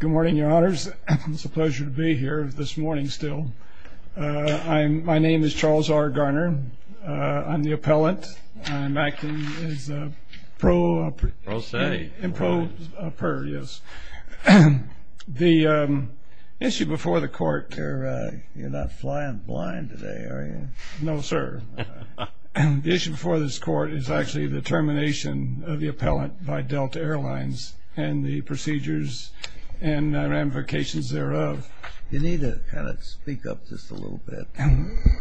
Good morning, your honors. It's a pleasure to be here, this morning still. My name is Charles R. Garner. I'm the appellant. I'm acting as a pro... Pro se. Pro per, yes. The issue before the court... You're not flying blind today, are you? No, sir. The issue before this court is actually the termination of the appellant by Delta Airlines and the procedures and ramifications thereof. You need to kind of speak up just a little bit.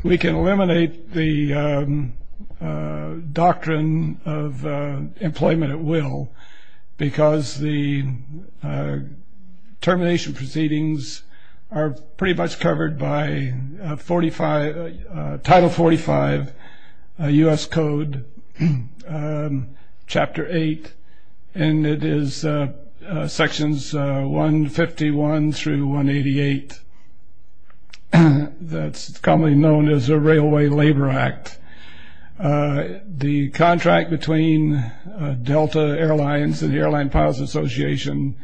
We can eliminate the doctrine of employment at will because the termination proceedings are pretty much covered by 45... Title 45 U.S. Code Chapter 8 And it is sections 151 through 188. That's commonly known as the Railway Labor Act. The contract between Delta Airlines and the Airline Pilots Association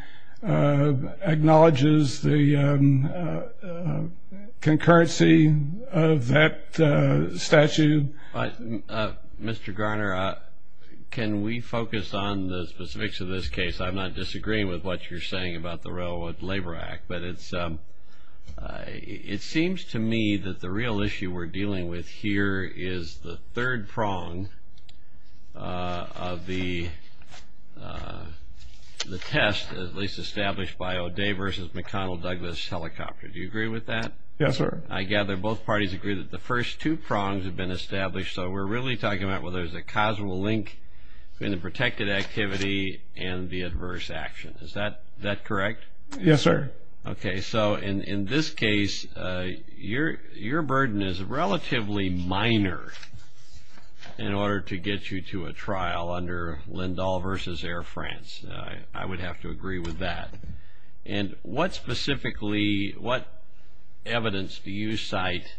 acknowledges the concurrency of that statute. Mr. Garner, can we focus on the specifics of this case? I'm not disagreeing with what you're saying about the Railway Labor Act, but it seems to me that the real issue we're dealing with here is the third prong of the test, at least established by O'Day v. McConnell-Douglas helicopter. Do you agree with that? Yes, sir. I gather both parties agree that the first two prongs have been established, so we're really talking about whether there's a causal link between the protected activity and the adverse action. Is that correct? Yes, sir. Okay. So in this case, your burden is relatively minor in order to get you to a trial under Lindahl v. Air France. I would have to agree with that. And what specifically, what evidence do you cite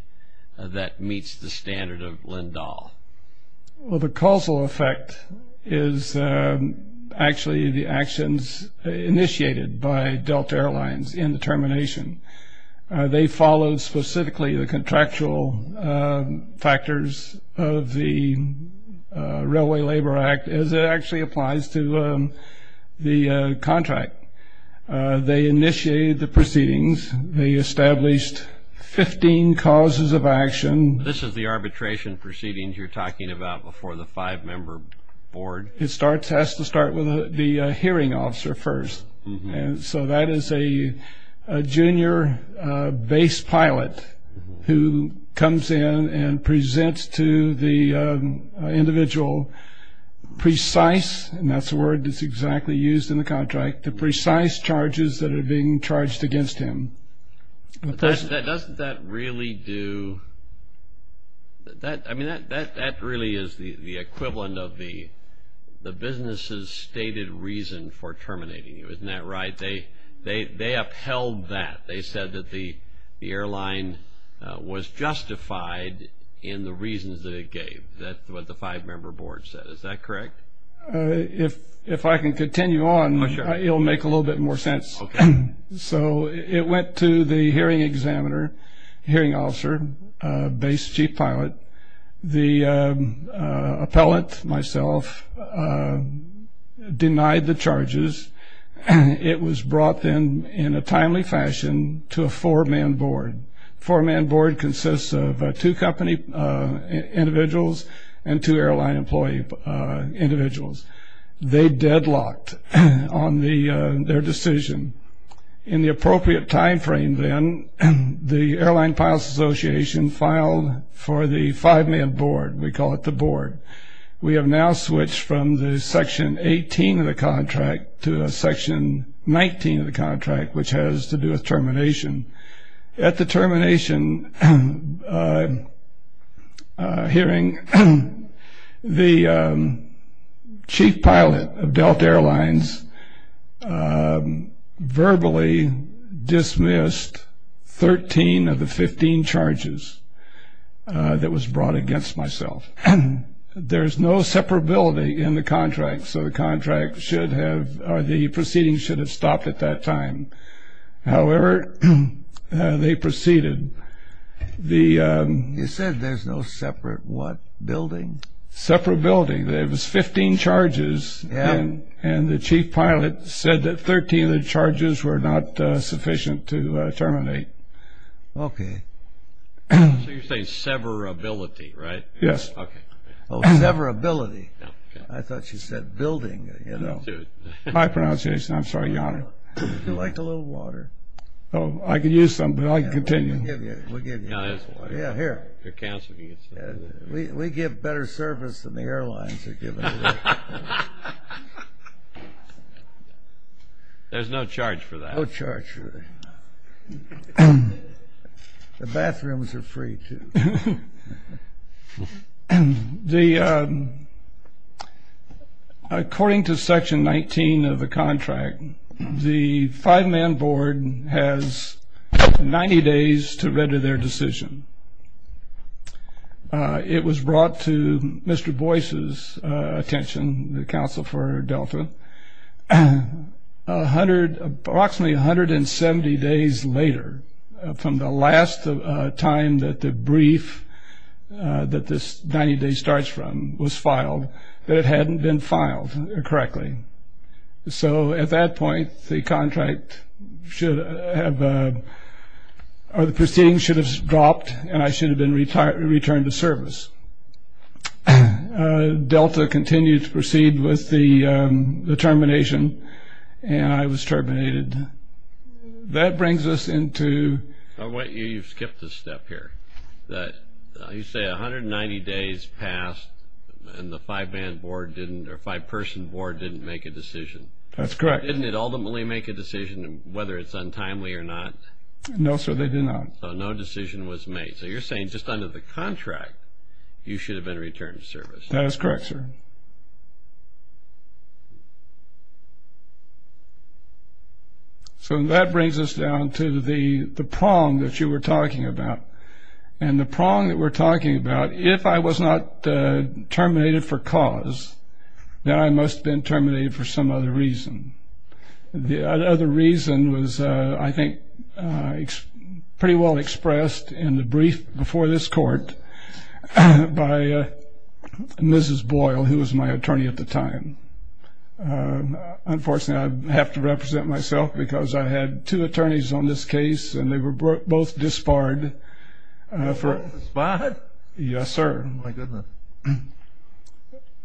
that meets the standard of Lindahl? Well, the causal effect is actually the actions initiated by Delta Airlines in the termination. They followed specifically the contractual factors of the Railway Labor Act as it actually applies to the contract. They initiated the proceedings. They established 15 causes of action. This is the arbitration proceedings you're talking about before the five-member board? It has to start with the hearing officer first. And so that is a junior base pilot who comes in and presents to the individual precise, and that's the word that's exactly used in the contract, the precise charges that are being charged against him. Doesn't that really do – I mean, that really is the equivalent of the business's stated reason for terminating you. Isn't that right? They upheld that. They said that the airline was justified in the reasons that it gave. That's what the five-member board said. Is that correct? If I can continue on, it will make a little bit more sense. So it went to the hearing examiner, hearing officer, base chief pilot. The appellant, myself, denied the charges. It was brought then in a timely fashion to a four-man board. A four-man board consists of two company individuals and two airline employee individuals. They deadlocked on their decision. In the appropriate timeframe then, the Airline Pilots Association filed for the five-man board. We call it the board. We have now switched from the Section 18 of the contract to a Section 19 of the contract, which has to do with termination. At the termination hearing, the chief pilot of Delta Airlines verbally dismissed 13 of the 15 charges that was brought against myself. There is no separability in the contract, so the contract should have or the proceedings should have stopped at that time. However, they proceeded. You said there's no separate what? Building? Separability. There was 15 charges, and the chief pilot said that 13 of the charges were not sufficient to terminate. Okay. So you're saying severability, right? Yes. Oh, severability. I thought you said building. My pronunciation. I'm sorry, Your Honor. Would you like a little water? Oh, I could use some, but I can continue. We'll give you. No, there's water. Yeah, here. Your counsel can get some. We give better service than the airlines are giving. There's no charge for that. No charge for that. The bathrooms are free, too. Okay. According to Section 19 of the contract, the five-man board has 90 days to render their decision. It was brought to Mr. Boyce's attention, the counsel for Delta, approximately 170 days later, from the last time that the brief that this 90-day starts from was filed, that it hadn't been filed correctly. So at that point, the proceeding should have dropped, and I should have been returned to service. Delta continued to proceed with the termination, and I was terminated. That brings us into... You skipped a step here. You say 190 days passed, and the five-person board didn't make a decision. That's correct. Didn't it ultimately make a decision, whether it's untimely or not? No, sir, they did not. So no decision was made. So you're saying just under the contract, you should have been returned to service. That is correct, sir. So that brings us down to the prong that you were talking about. And the prong that we're talking about, if I was not terminated for cause, then I must have been terminated for some other reason. The other reason was, I think, pretty well expressed in the brief before this court by Mrs. Boyle, who was my attorney at the time. Unfortunately, I have to represent myself because I had two attorneys on this case, and they were both disbarred. Disbarred? Yes, sir. Oh, my goodness.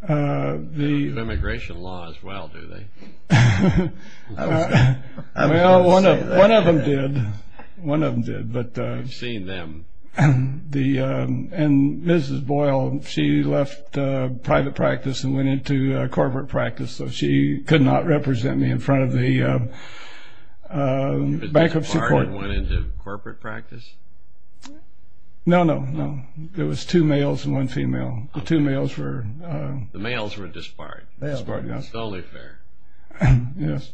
They don't have immigration law as well, do they? I was going to say that. Well, one of them did. One of them did. I've seen them. And Mrs. Boyle, she left private practice and went into corporate practice, so she could not represent me in front of the bankruptcy court. You were disbarred and went into corporate practice? No, no, no. There was two males and one female. The two males were disbarred. Disbarred, yes. It's the only fair. Yes.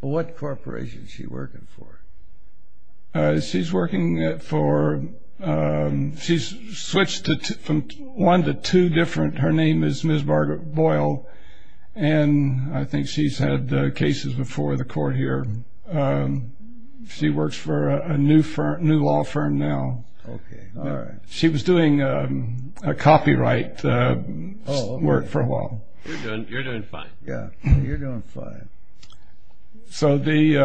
What corporation is she working for? She's working for one to two different. Her name is Ms. Boyle, and I think she's had cases before the court here. She works for a new law firm now. Okay, all right. She was doing copyright work for a while. You're doing fine. Yeah, you're doing fine. So the,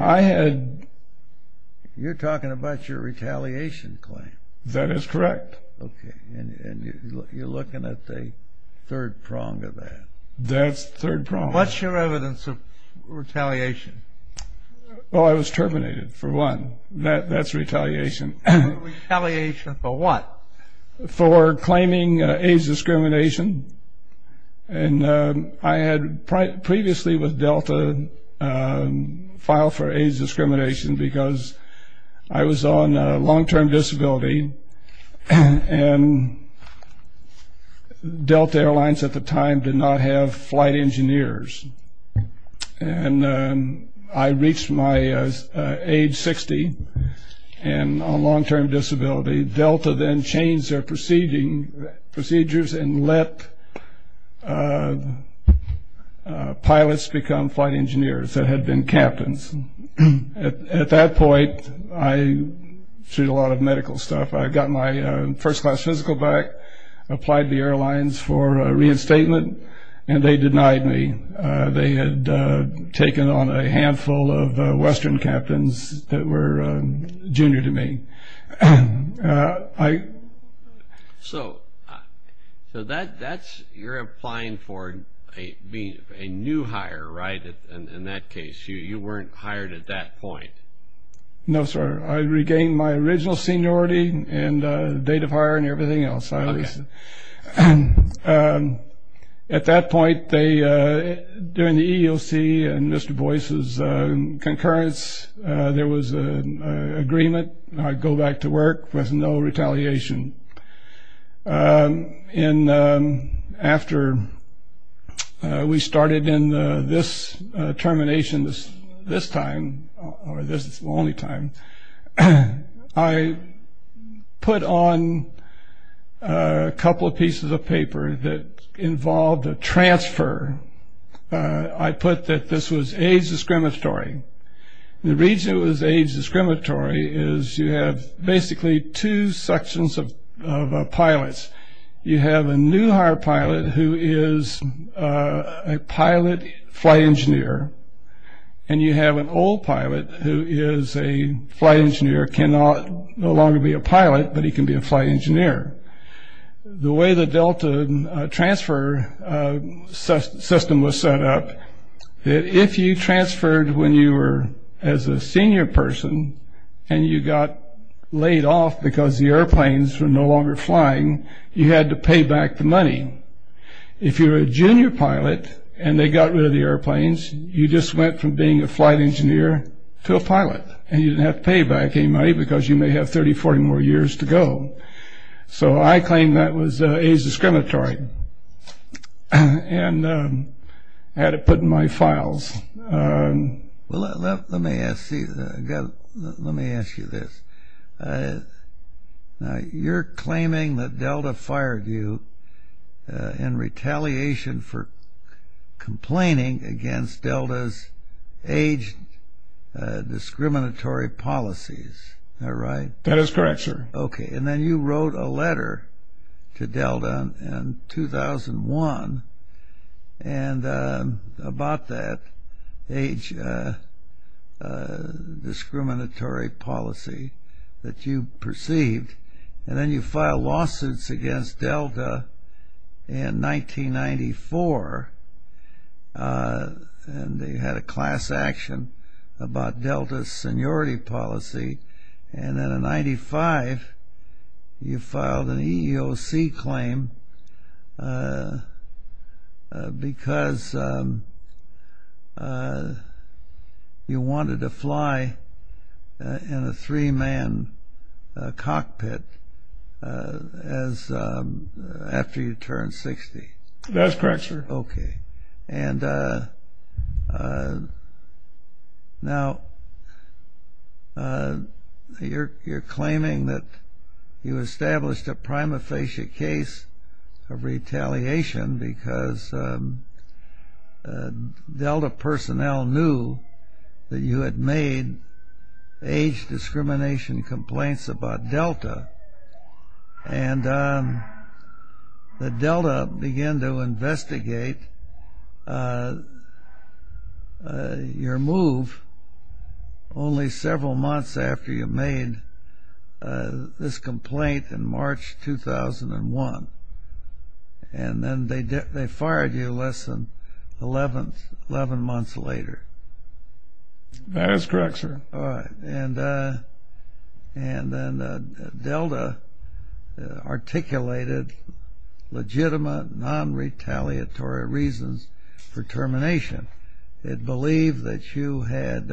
I had... You're talking about your retaliation claim. That is correct. Okay, and you're looking at the third prong of that. That's the third prong. What's your evidence of retaliation? Well, I was terminated for one. That's retaliation. Retaliation for what? For claiming age discrimination, and I had previously with Delta filed for age discrimination because I was on long-term disability, and Delta Airlines at the time did not have flight engineers, and I reached my age 60 on long-term disability. Delta then changed their procedures and let pilots become flight engineers that had been captains. At that point, I sued a lot of medical stuff. I got my first-class physical back, applied to the airlines for reinstatement, and they denied me. They had taken on a handful of Western captains that were junior to me. So you're applying for being a new hire, right, in that case. You weren't hired at that point. No, sir. I regained my original seniority and date of hire and everything else. At that point, during the EEOC and Mr. Boyce's concurrence, there was an agreement. I'd go back to work with no retaliation. And after we started in this termination this time, or this is the only time, I put on a couple of pieces of paper that involved a transfer. I put that this was age discriminatory. The reason it was age discriminatory is you have basically two sections of pilots. You have a new hire pilot who is a pilot flight engineer, and you have an old pilot who is a flight engineer, cannot no longer be a pilot, but he can be a flight engineer. The way the Delta transfer system was set up, if you transferred when you were as a senior person and you got laid off because the airplanes were no longer flying, you had to pay back the money. If you were a junior pilot and they got rid of the airplanes, you just went from being a flight engineer to a pilot, and you didn't have to pay back any money because you may have 30, 40 more years to go. So I claimed that was age discriminatory. I had it put in my files. Let me ask you this. You're claiming that Delta fired you in retaliation for complaining against Delta's age discriminatory policies. That is correct, sir. Okay, and then you wrote a letter to Delta in 2001 about that age discriminatory policy that you perceived, and then you filed lawsuits against Delta in 1994, and they had a class action about Delta's seniority policy, and then in 1995, you filed an EEOC claim because you wanted to fly in a three-man cockpit after you turned 60. Okay, and now you're claiming that you established a prima facie case of retaliation because Delta personnel knew that you had made age discrimination complaints about Delta, and that Delta began to investigate your move only several months after you made this complaint in March 2001, and then they fired you less than 11 months later. That is correct, sir. All right, and then Delta articulated legitimate non-retaliatory reasons for termination. It believed that you had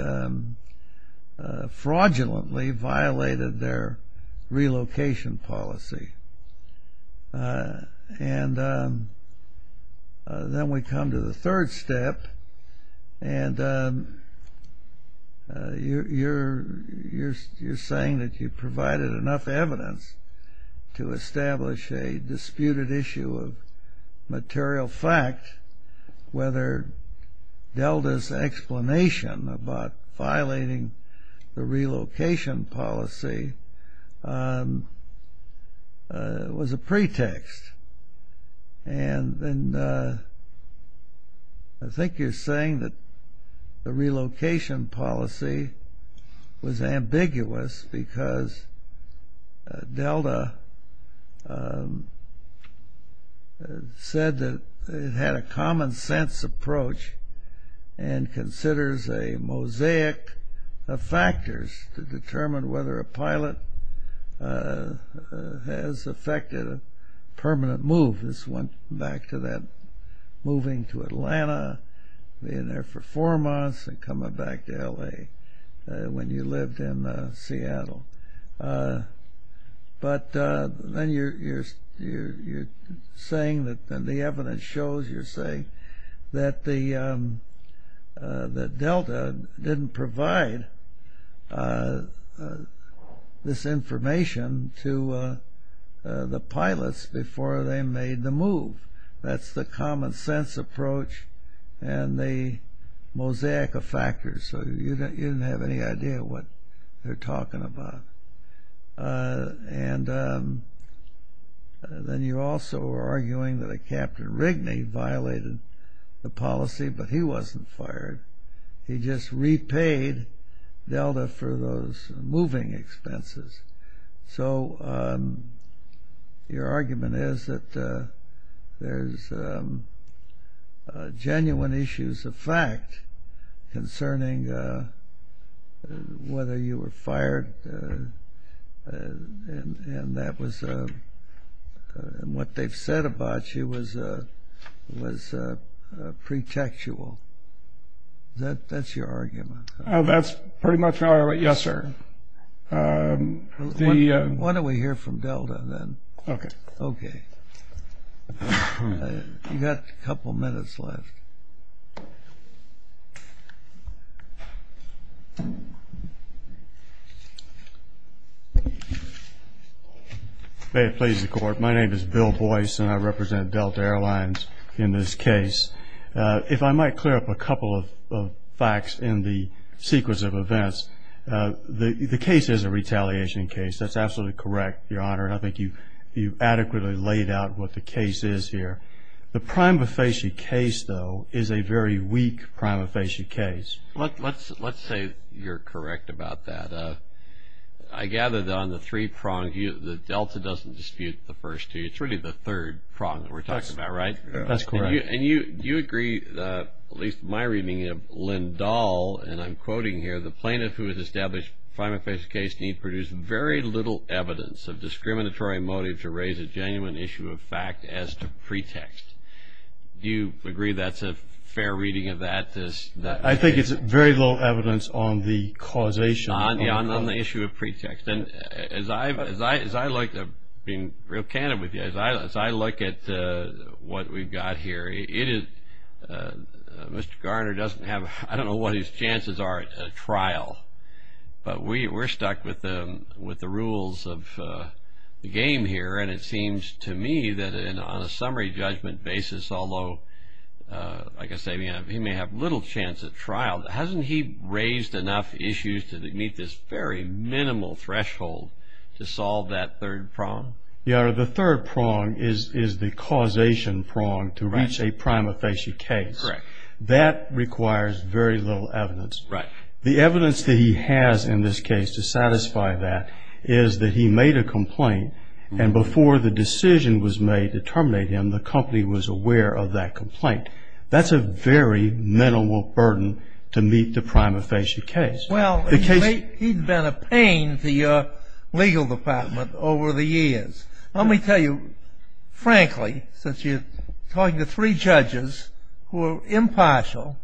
fraudulently violated their relocation policy, and then we come to the third step, and you're saying that you provided enough evidence to establish a disputed issue of material fact whether Delta's explanation about violating the relocation policy was a pretext, and then I think you're saying that the relocation policy was ambiguous because Delta said that it had a common-sense approach and considers a mosaic of factors to determine whether a pilot has effected a permanent move. This went back to that moving to Atlanta, being there for four months, and coming back to L.A. when you lived in Seattle, but then you're saying that the evidence shows you're saying that Delta didn't provide this information to the pilots before they made the move. That's the common-sense approach and the mosaic of factors, so you didn't have any idea what they're talking about, and then you also are arguing that Captain Rigney violated the policy, but he wasn't fired. He just repaid Delta for those moving expenses, so your argument is that there's genuine issues of fact concerning whether you were fired, and what they've said about you was pretextual. That's your argument. That's pretty much my argument, yes, sir. Why don't we hear from Delta then? Okay. You've got a couple minutes left. May it please the Court, my name is Bill Boyce, and I represent Delta Airlines in this case. If I might clear up a couple of facts in the sequence of events, the case is a retaliation case. That's absolutely correct, Your Honor, and I think you've adequately laid out what the case is here. The prima facie case, though, is a very weak prima facie case. Let's say you're correct about that. I gather that on the three prongs, the Delta doesn't dispute the first two. It's really the third prong that we're talking about, right? That's correct. And you agree, at least in my reading of Lynn Dahl, and I'm quoting here, the plaintiff who has established prima facie case need produce very little evidence of discriminatory motive to raise a genuine issue of fact as to pretext. Do you agree that's a fair reading of that? I think it's very little evidence on the causation. On the issue of pretext. As I look, being real candid with you, as I look at what we've got here, Mr. Garner doesn't have, I don't know what his chances are at trial, but we're stuck with the rules of the game here, and it seems to me that on a summary judgment basis, although, like I say, he may have little chance at trial, hasn't he raised enough issues to meet this very minimal threshold to solve that third prong? Your Honor, the third prong is the causation prong to reach a prima facie case. Correct. That requires very little evidence. Right. The evidence that he has in this case to satisfy that is that he made a complaint, and before the decision was made to terminate him, the company was aware of that complaint. That's a very minimal burden to meet the prima facie case. Well, he's been a pain to your legal department over the years. Let me tell you, frankly, since you're talking to three judges who are impartial,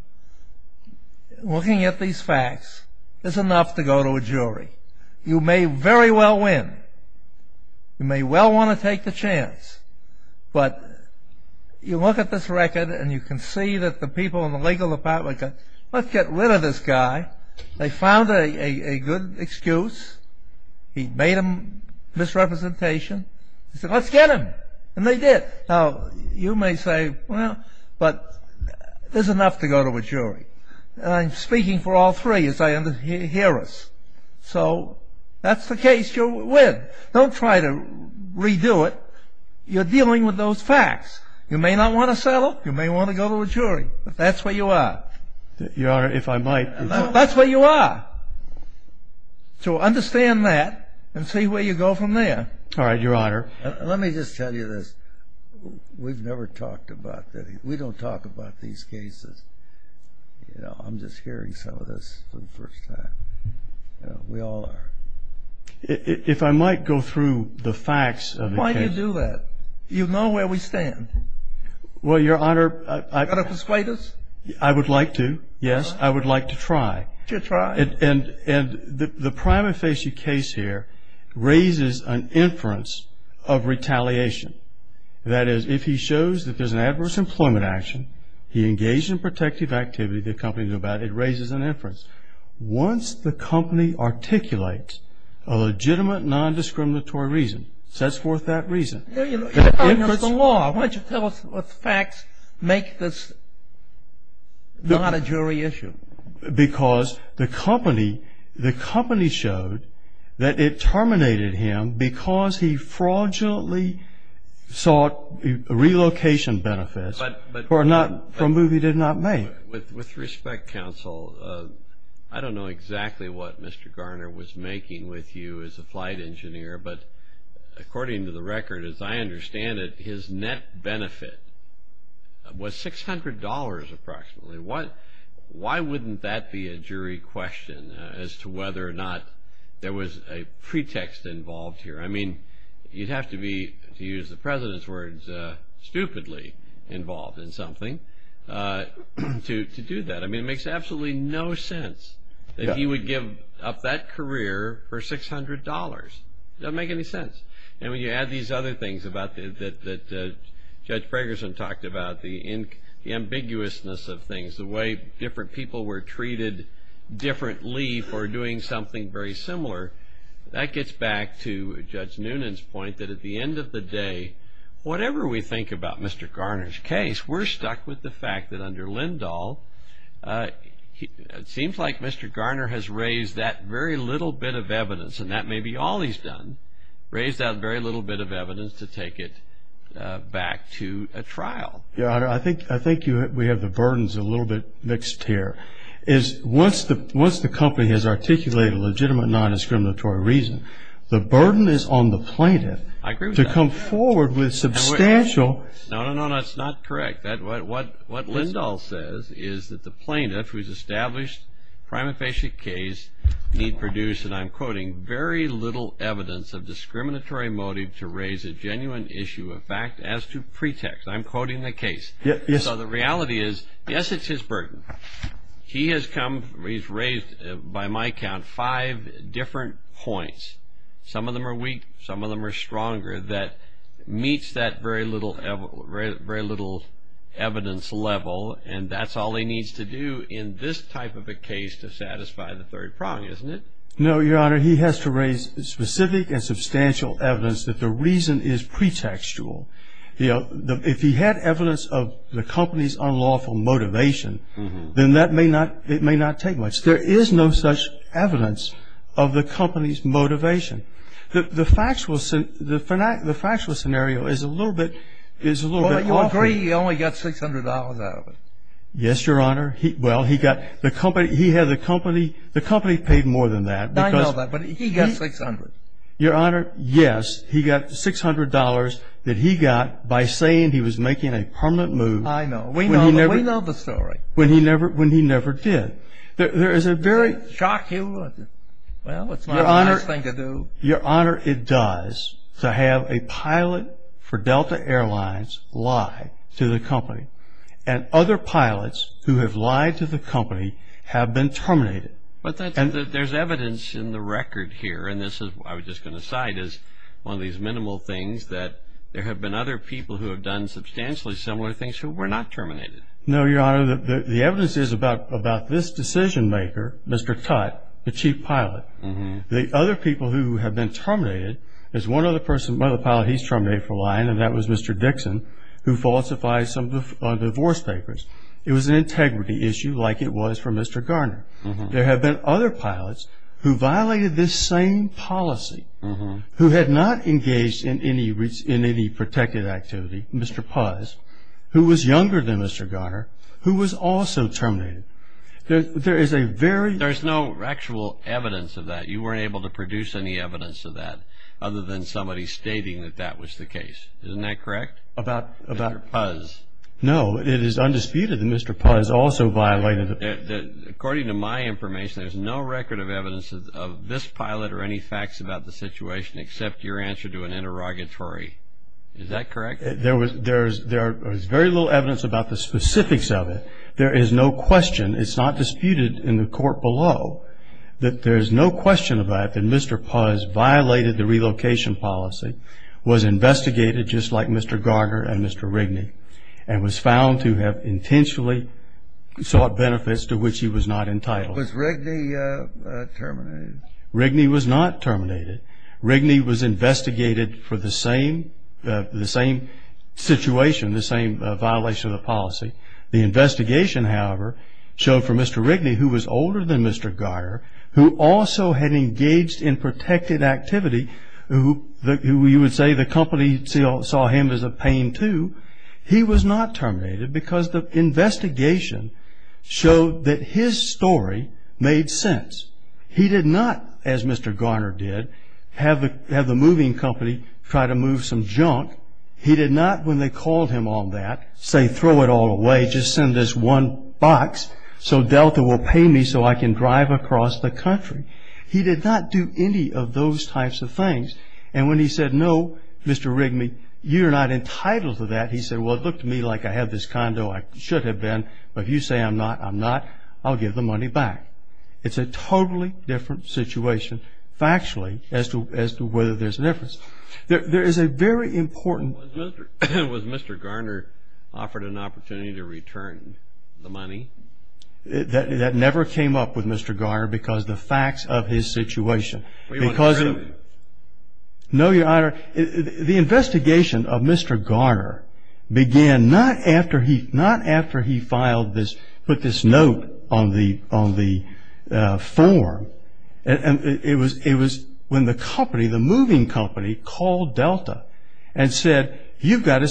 looking at these facts is enough to go to a jury. You may very well win. You may well want to take the chance. But you look at this record, and you can see that the people in the legal department go, let's get rid of this guy. They found a good excuse. He made a misrepresentation. They said, let's get him, and they did. Now, you may say, well, but there's enough to go to a jury. I'm speaking for all three as I hear us. So that's the case you'll win. Don't try to redo it. You're dealing with those facts. You may not want to settle. You may want to go to a jury. That's where you are. Your Honor, if I might. That's where you are. So understand that and see where you go from there. All right, Your Honor. Let me just tell you this. We've never talked about this. We don't talk about these cases. I'm just hearing some of this for the first time. We all are. If I might go through the facts of the case. Why do you do that? You know where we stand. Well, Your Honor. Are you going to persuade us? I would like to, yes. I would like to try. Just try. And the prima facie case here raises an inference of retaliation. That is, if he shows that there's an adverse employment action, he engaged in protective activity, the company knew about it, it raises an inference. Once the company articulates a legitimate non-discriminatory reason, sets forth that reason. Your Honor, that's the law. Why don't you tell us what facts make this not a jury issue? Because the company showed that it terminated him because he fraudulently sought relocation benefits for a move he did not make. With respect, Counsel, I don't know exactly what Mr. Garner was making with you as a flight engineer, but according to the record, as I understand it, his net benefit was $600 approximately. Why wouldn't that be a jury question as to whether or not there was a pretext involved here? I mean, you'd have to be, to use the President's words, stupidly involved in something to do that. I mean, it makes absolutely no sense that he would give up that career for $600. It doesn't make any sense. And when you add these other things that Judge Fragerson talked about, the ambiguousness of things, the way different people were treated differently for doing something very similar, that gets back to Judge Noonan's point that at the end of the day, whatever we think about Mr. Garner's case, we're stuck with the fact that under Lindahl, it seems like Mr. Garner has raised that very little bit of evidence, and that may be all he's done, raised that very little bit of evidence to take it back to a trial. I think we have the burdens a little bit mixed here. Once the company has articulated legitimate non-discriminatory reason, the burden is on the plaintiff to come forward with substantial. No, no, no. That's not correct. What Lindahl says is that the plaintiff, who has established a prima facie case, need produce, and I'm quoting, very little evidence of discriminatory motive to raise a genuine issue of fact as to pretext. I'm quoting the case. So the reality is, yes, it's his burden. He has raised, by my count, five different points. Some of them are weak. Some of them are stronger that meets that very little evidence level, and that's all he needs to do in this type of a case to satisfy the third prong, isn't it? No, Your Honor. He has to raise specific and substantial evidence that the reason is pretextual. If he had evidence of the company's unlawful motivation, then it may not take much. There is no such evidence of the company's motivation. The factual scenario is a little bit awkward. Well, you'll agree he only got $600 out of it. Yes, Your Honor. Well, he had the company. The company paid more than that. I know that, but he got $600. Your Honor, yes. He got the $600 that he got by saying he was making a permanent move. I know. We know the story. When he never did. Does it shock you? Well, it's my last thing to do. Your Honor, it does to have a pilot for Delta Airlines lie to the company, and other pilots who have lied to the company have been terminated. There's evidence in the record here, and this I was just going to cite as one of these minimal things, that there have been other people who have done substantially similar things who were not terminated. No, Your Honor. The evidence is about this decision-maker, Mr. Tutte, the chief pilot. The other people who have been terminated is one other person, one other pilot he's terminated for lying, and that was Mr. Dixon, who falsifies some divorce papers. It was an integrity issue like it was for Mr. Garner. There have been other pilots who violated this same policy, who had not engaged in any protected activity, Mr. Puz, who was younger than Mr. Garner, who was also terminated. There is a very – There's no actual evidence of that. You weren't able to produce any evidence of that other than somebody stating that that was the case. Isn't that correct? About – Mr. Puz. No, it is undisputed that Mr. Puz also violated – According to my information, there's no record of evidence of this pilot or any facts about the situation except your answer to an interrogatory. Is that correct? There was very little evidence about the specifics of it. There is no question, it's not disputed in the court below, that there is no question about it that Mr. Puz violated the relocation policy, was investigated just like Mr. Garner and Mr. Rigney, and was found to have intentionally sought benefits to which he was not entitled. Was Rigney terminated? Rigney was not terminated. Rigney was investigated for the same situation, the same violation of the policy. The investigation, however, showed for Mr. Rigney, who was older than Mr. Garner, who also had engaged in protected activity, who you would say the company saw him as a pain too, he was not terminated because the investigation showed that his story made sense. He did not, as Mr. Garner did, have the moving company try to move some junk. He did not, when they called him on that, say, throw it all away, just send this one box so Delta will pay me so I can drive across the country. He did not do any of those types of things. And when he said, no, Mr. Rigney, you are not entitled to that, he said, well, it looked to me like I have this condo, I should have been, but if you say I'm not, I'm not, I'll give the money back. It's a totally different situation factually as to whether there's a difference. There is a very important Was Mr. Garner offered an opportunity to return the money? That never came up with Mr. Garner because the facts of his situation. Were you on the road? No, Your Honor. The investigation of Mr. Garner began not after he filed this, put this note on the form. It was when the company, the moving company, called Delta and said, we've got a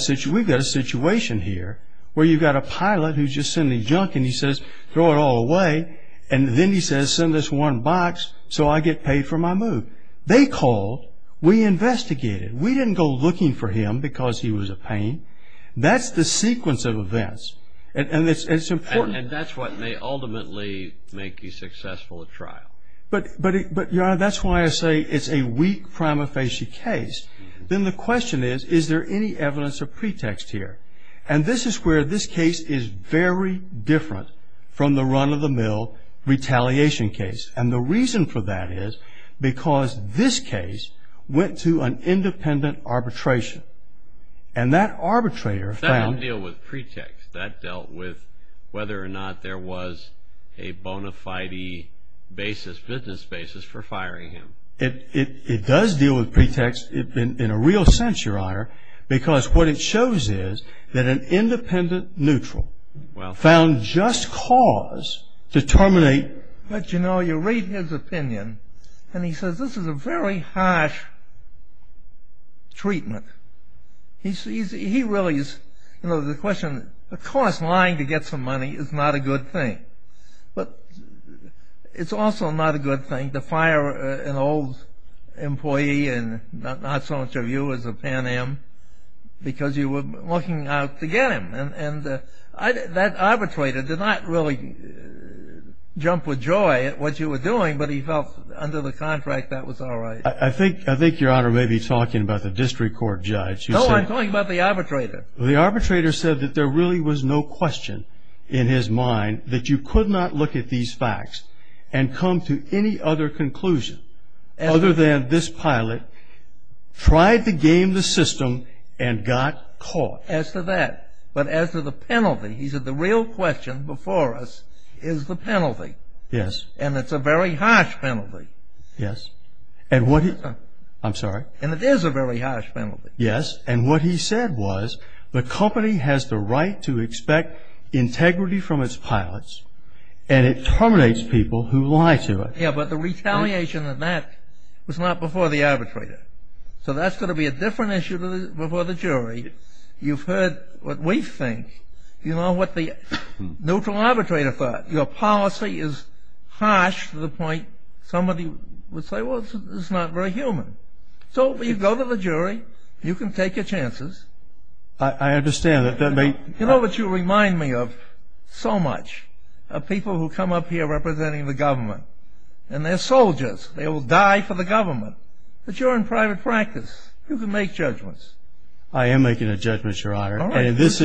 situation here where you've got a pilot who's just sending junk, and he says, throw it all away, and then he says, send this one box so I get paid for my move. They called. We investigated. We didn't go looking for him because he was a pain. That's the sequence of events, and it's important. And that's what may ultimately make you successful at trial. But, Your Honor, that's why I say it's a weak prima facie case. Then the question is, is there any evidence of pretext here? And this is where this case is very different from the run-of-the-mill retaliation case. And the reason for that is because this case went to an independent arbitration. And that arbitrator found That didn't deal with pretext. That dealt with whether or not there was a bona fide basis, business basis for firing him. It does deal with pretext in a real sense, Your Honor, because what it shows is that an independent neutral found just cause to terminate But, you know, you read his opinion, and he says, this is a very harsh treatment. He really is, you know, the question, of course, lying to get some money is not a good thing. But it's also not a good thing. I mean, to fire an old employee and not so much of you as a Pan Am, because you were looking out to get him. And that arbitrator did not really jump with joy at what you were doing, but he felt under the contract that was all right. I think Your Honor may be talking about the district court judge. No, I'm talking about the arbitrator. The arbitrator said that there really was no question in his mind that you could not look at these facts and come to any other conclusion, other than this pilot tried to game the system and got caught. As to that, but as to the penalty, he said the real question before us is the penalty. Yes. And it's a very harsh penalty. Yes. And what he, I'm sorry. And it is a very harsh penalty. Yes. And what he said was the company has the right to expect integrity from its pilots, and it terminates people who lie to it. Yeah, but the retaliation of that was not before the arbitrator. So that's going to be a different issue before the jury. You've heard what we think. You know what the neutral arbitrator thought. Your policy is harsh to the point somebody would say, well, it's not very human. So you go to the jury. You can take your chances. I understand. You know what you remind me of so much, of people who come up here representing the government, and they're soldiers. They will die for the government. But you're in private practice. You can make judgments. I am making a judgment, Your Honor. In this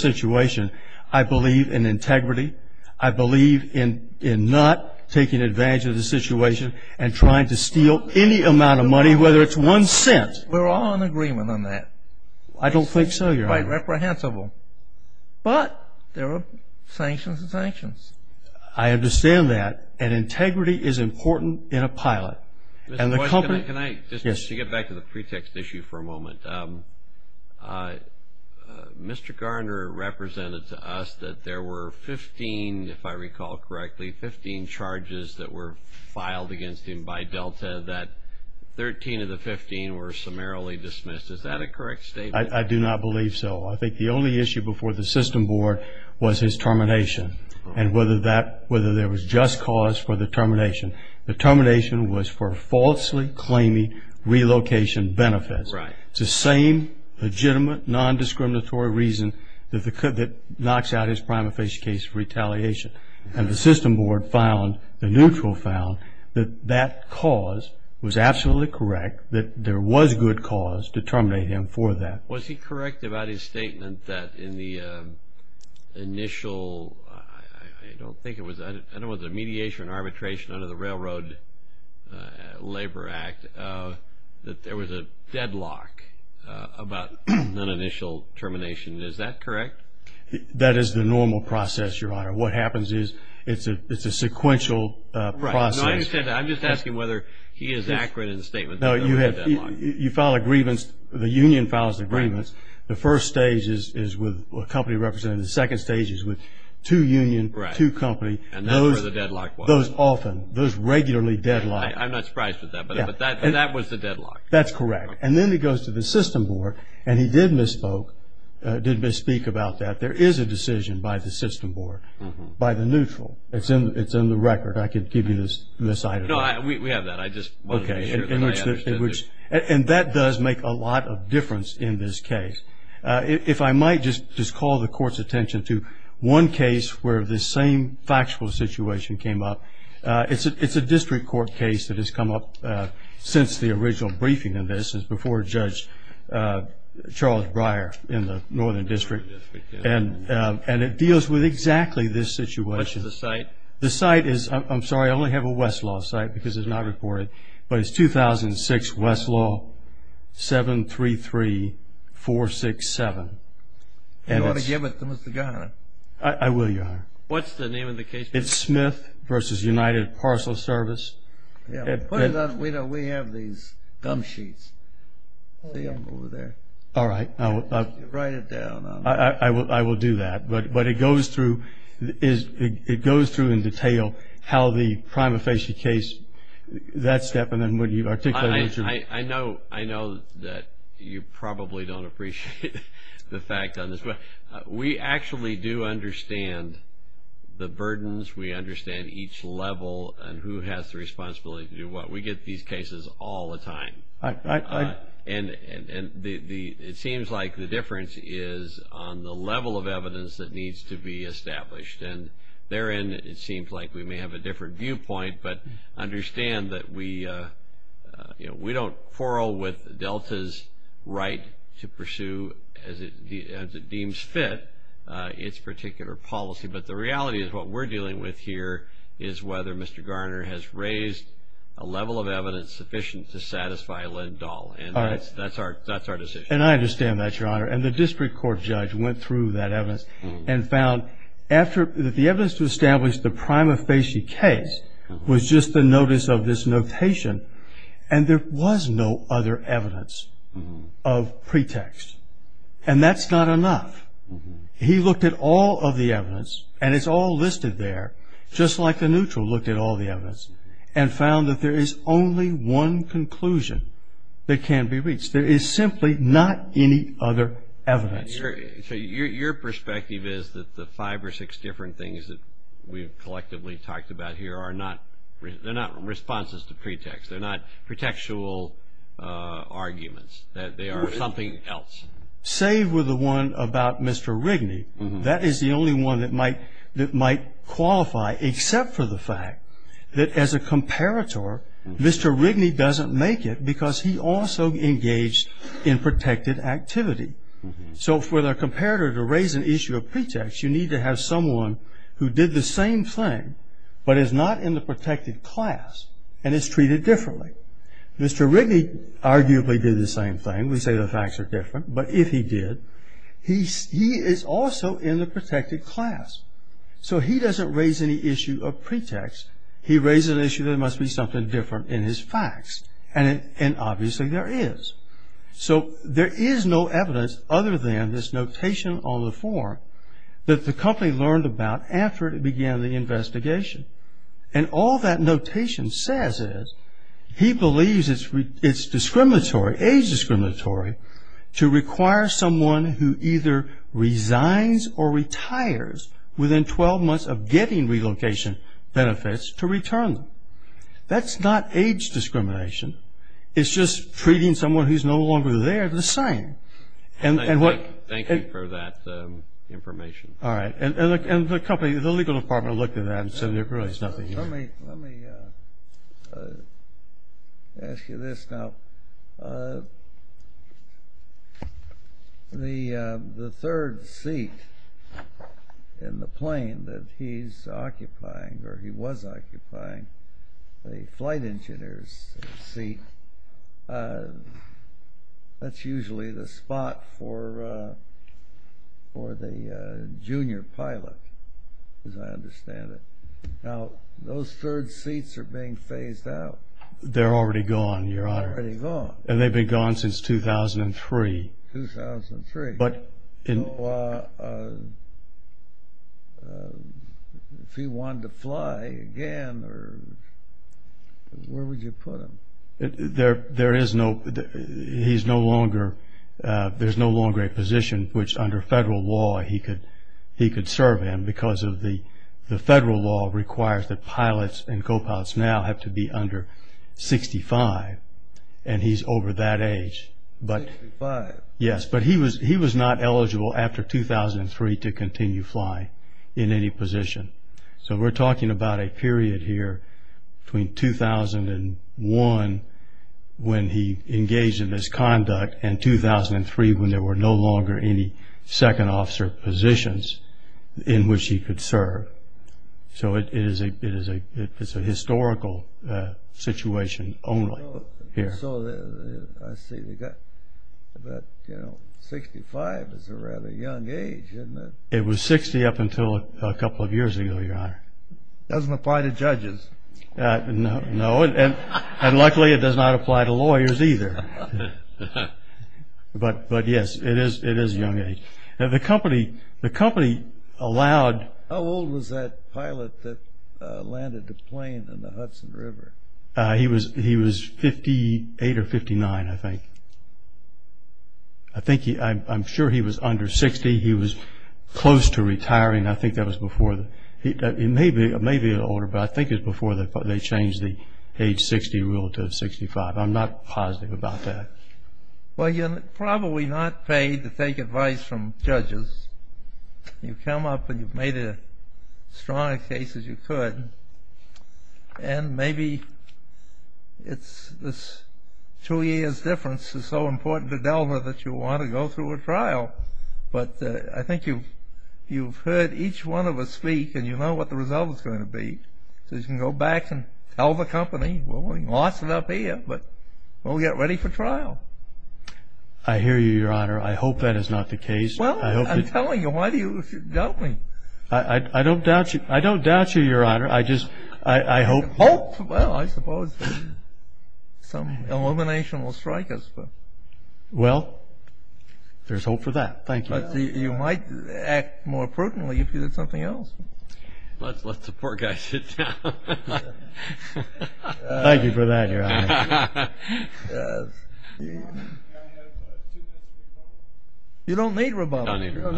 situation, I believe in integrity. I believe in not taking advantage of the situation and trying to steal any amount of money, whether it's one cent. We're all in agreement on that. I don't think so, Your Honor. It's quite reprehensible. But there are sanctions and sanctions. I understand that. And integrity is important in a pilot. Mr. Boyce, can I just get back to the pretext issue for a moment? Mr. Garner represented to us that there were 15, if I recall correctly, 15 charges that were filed against him by Delta, that 13 of the 15 were summarily dismissed. Is that a correct statement? I do not believe so. I think the only issue before the system board was his termination and whether there was just cause for the termination. The termination was for falsely claiming relocation benefits. Right. It's the same legitimate, non-discriminatory reason that knocks out his prima facie case for retaliation. And the system board found, the neutral found, that that cause was absolutely correct, that there was good cause to terminate him for that. Was he correct about his statement that in the initial, I don't think it was, I don't know whether it was mediation or arbitration under the Railroad Labor Act, that there was a deadlock about an initial termination. Is that correct? That is the normal process, Your Honor. What happens is it's a sequential process. Right. No, I understand that. I'm just asking whether he is accurate in his statement that there was a deadlock. No, you file a grievance, the union files the grievance. The first stage is with a company representative. The second stage is with two unions, two companies. And that's where the deadlock was. Those often, those regularly deadlock. I'm not surprised with that, but that was the deadlock. That's correct. And then he goes to the system board, and he did misspeak about that. There is a decision by the system board, by the neutral. It's in the record. I could give you this item. No, we have that. I just wanted to make sure that I understood it. Okay. And that does make a lot of difference in this case. If I might just call the Court's attention to one case where this same factual situation came up. It's a district court case that has come up since the original briefing in this, before Judge Charles Breyer in the Northern District. And it deals with exactly this situation. What's the site? The site is, I'm sorry, I only have a Westlaw site because it's not reported. But it's 2006 Westlaw 733-467. You ought to give it to Mr. Garner. I will, Your Honor. What's the name of the case? It's Smith v. United Parcel Service. Put it on. We have these gum sheets. See them over there. All right. Write it down. I will do that. But it goes through in detail how the prima facie case, that step. And then when you articulate it. I know that you probably don't appreciate the fact on this. But we actually do understand the burdens. We understand each level and who has the responsibility to do what. We get these cases all the time. And it seems like the difference is on the level of evidence that needs to be established. And therein it seems like we may have a different viewpoint, but understand that we don't quarrel with Delta's right to pursue, as it deems fit, its particular policy. But the reality is what we're dealing with here is whether Mr. Garner has raised a level of evidence sufficient to satisfy Lindahl. And that's our decision. And I understand that, Your Honor. And the district court judge went through that evidence and found that the evidence to establish the prima facie case was just the notice of this notation. And there was no other evidence of pretext. And that's not enough. He looked at all of the evidence, and it's all listed there, just like the neutral looked at all the evidence, and found that there is only one conclusion that can be reached. There is simply not any other evidence. So your perspective is that the five or six different things that we've collectively talked about here are not responses to pretext. They're not pretextual arguments. They are something else. Save for the one about Mr. Rigney. That is the only one that might qualify, except for the fact that as a comparator, Mr. Rigney doesn't make it because he also engaged in protected activity. So for the comparator to raise an issue of pretext, you need to have someone who did the same thing but is not in the protected class and is treated differently. Mr. Rigney arguably did the same thing. We say the facts are different. But if he did, he is also in the protected class. So he doesn't raise any issue of pretext. He raises an issue that there must be something different in his facts. And obviously there is. So there is no evidence other than this notation on the form that the company learned about after it began the investigation. And all that notation says is he believes it's discriminatory, age discriminatory, to require someone who either resigns or retires within 12 months of getting relocation benefits to return them. That's not age discrimination. It's just treating someone who's no longer there the same. Thank you for that information. All right. And the legal department looked at that and said there really is nothing here. Let me ask you this now. The third seat in the plane that he's occupying or he was occupying, the flight engineer's seat, that's usually the spot for the junior pilot, as I understand it. Now, those third seats are being phased out. They're already gone, Your Honor. They're already gone. And they've been gone since 2003. 2003. So if he wanted to fly again, where would you put him? There is no longer a position which under federal law he could serve in because the federal law requires that pilots and co-pilots now have to be under 65. And he's over that age. 65? Yes. But he was not eligible after 2003 to continue flying in any position. So we're talking about a period here between 2001 when he engaged in misconduct and 2003 when there were no longer any second officer positions in which he could serve. So it's a historical situation only here. So I see. But, you know, 65 is a rather young age, isn't it? It was 60 up until a couple of years ago, Your Honor. It doesn't apply to judges. No, and luckily it does not apply to lawyers either. But, yes, it is a young age. The company allowed... How old was that pilot that landed the plane in the Hudson River? He was 58 or 59, I think. I'm sure he was under 60. He was close to retiring. I think that was before... It may be older, but I think it was before they changed the age 60 rule to 65. I'm not positive about that. Well, you're probably not paid to take advice from judges. You come up and you've made as strong a case as you could, and maybe this two years' difference is so important to Delma that you want to go through a trial. But I think you've heard each one of us speak, and you know what the result is going to be. So you can go back and tell the company, well, we lost it up here, but we'll get ready for trial. I hear you, Your Honor. I hope that is not the case. Well, I'm telling you. Why do you doubt me? I don't doubt you, Your Honor. I just hope... Hope? Well, I suppose some illumination will strike us. Well, there's hope for that. Thank you. But you might act more prudently if you did something else. Let the poor guy sit down. Thank you for that, Your Honor. You don't need rebuttal. You don't need rebuttal.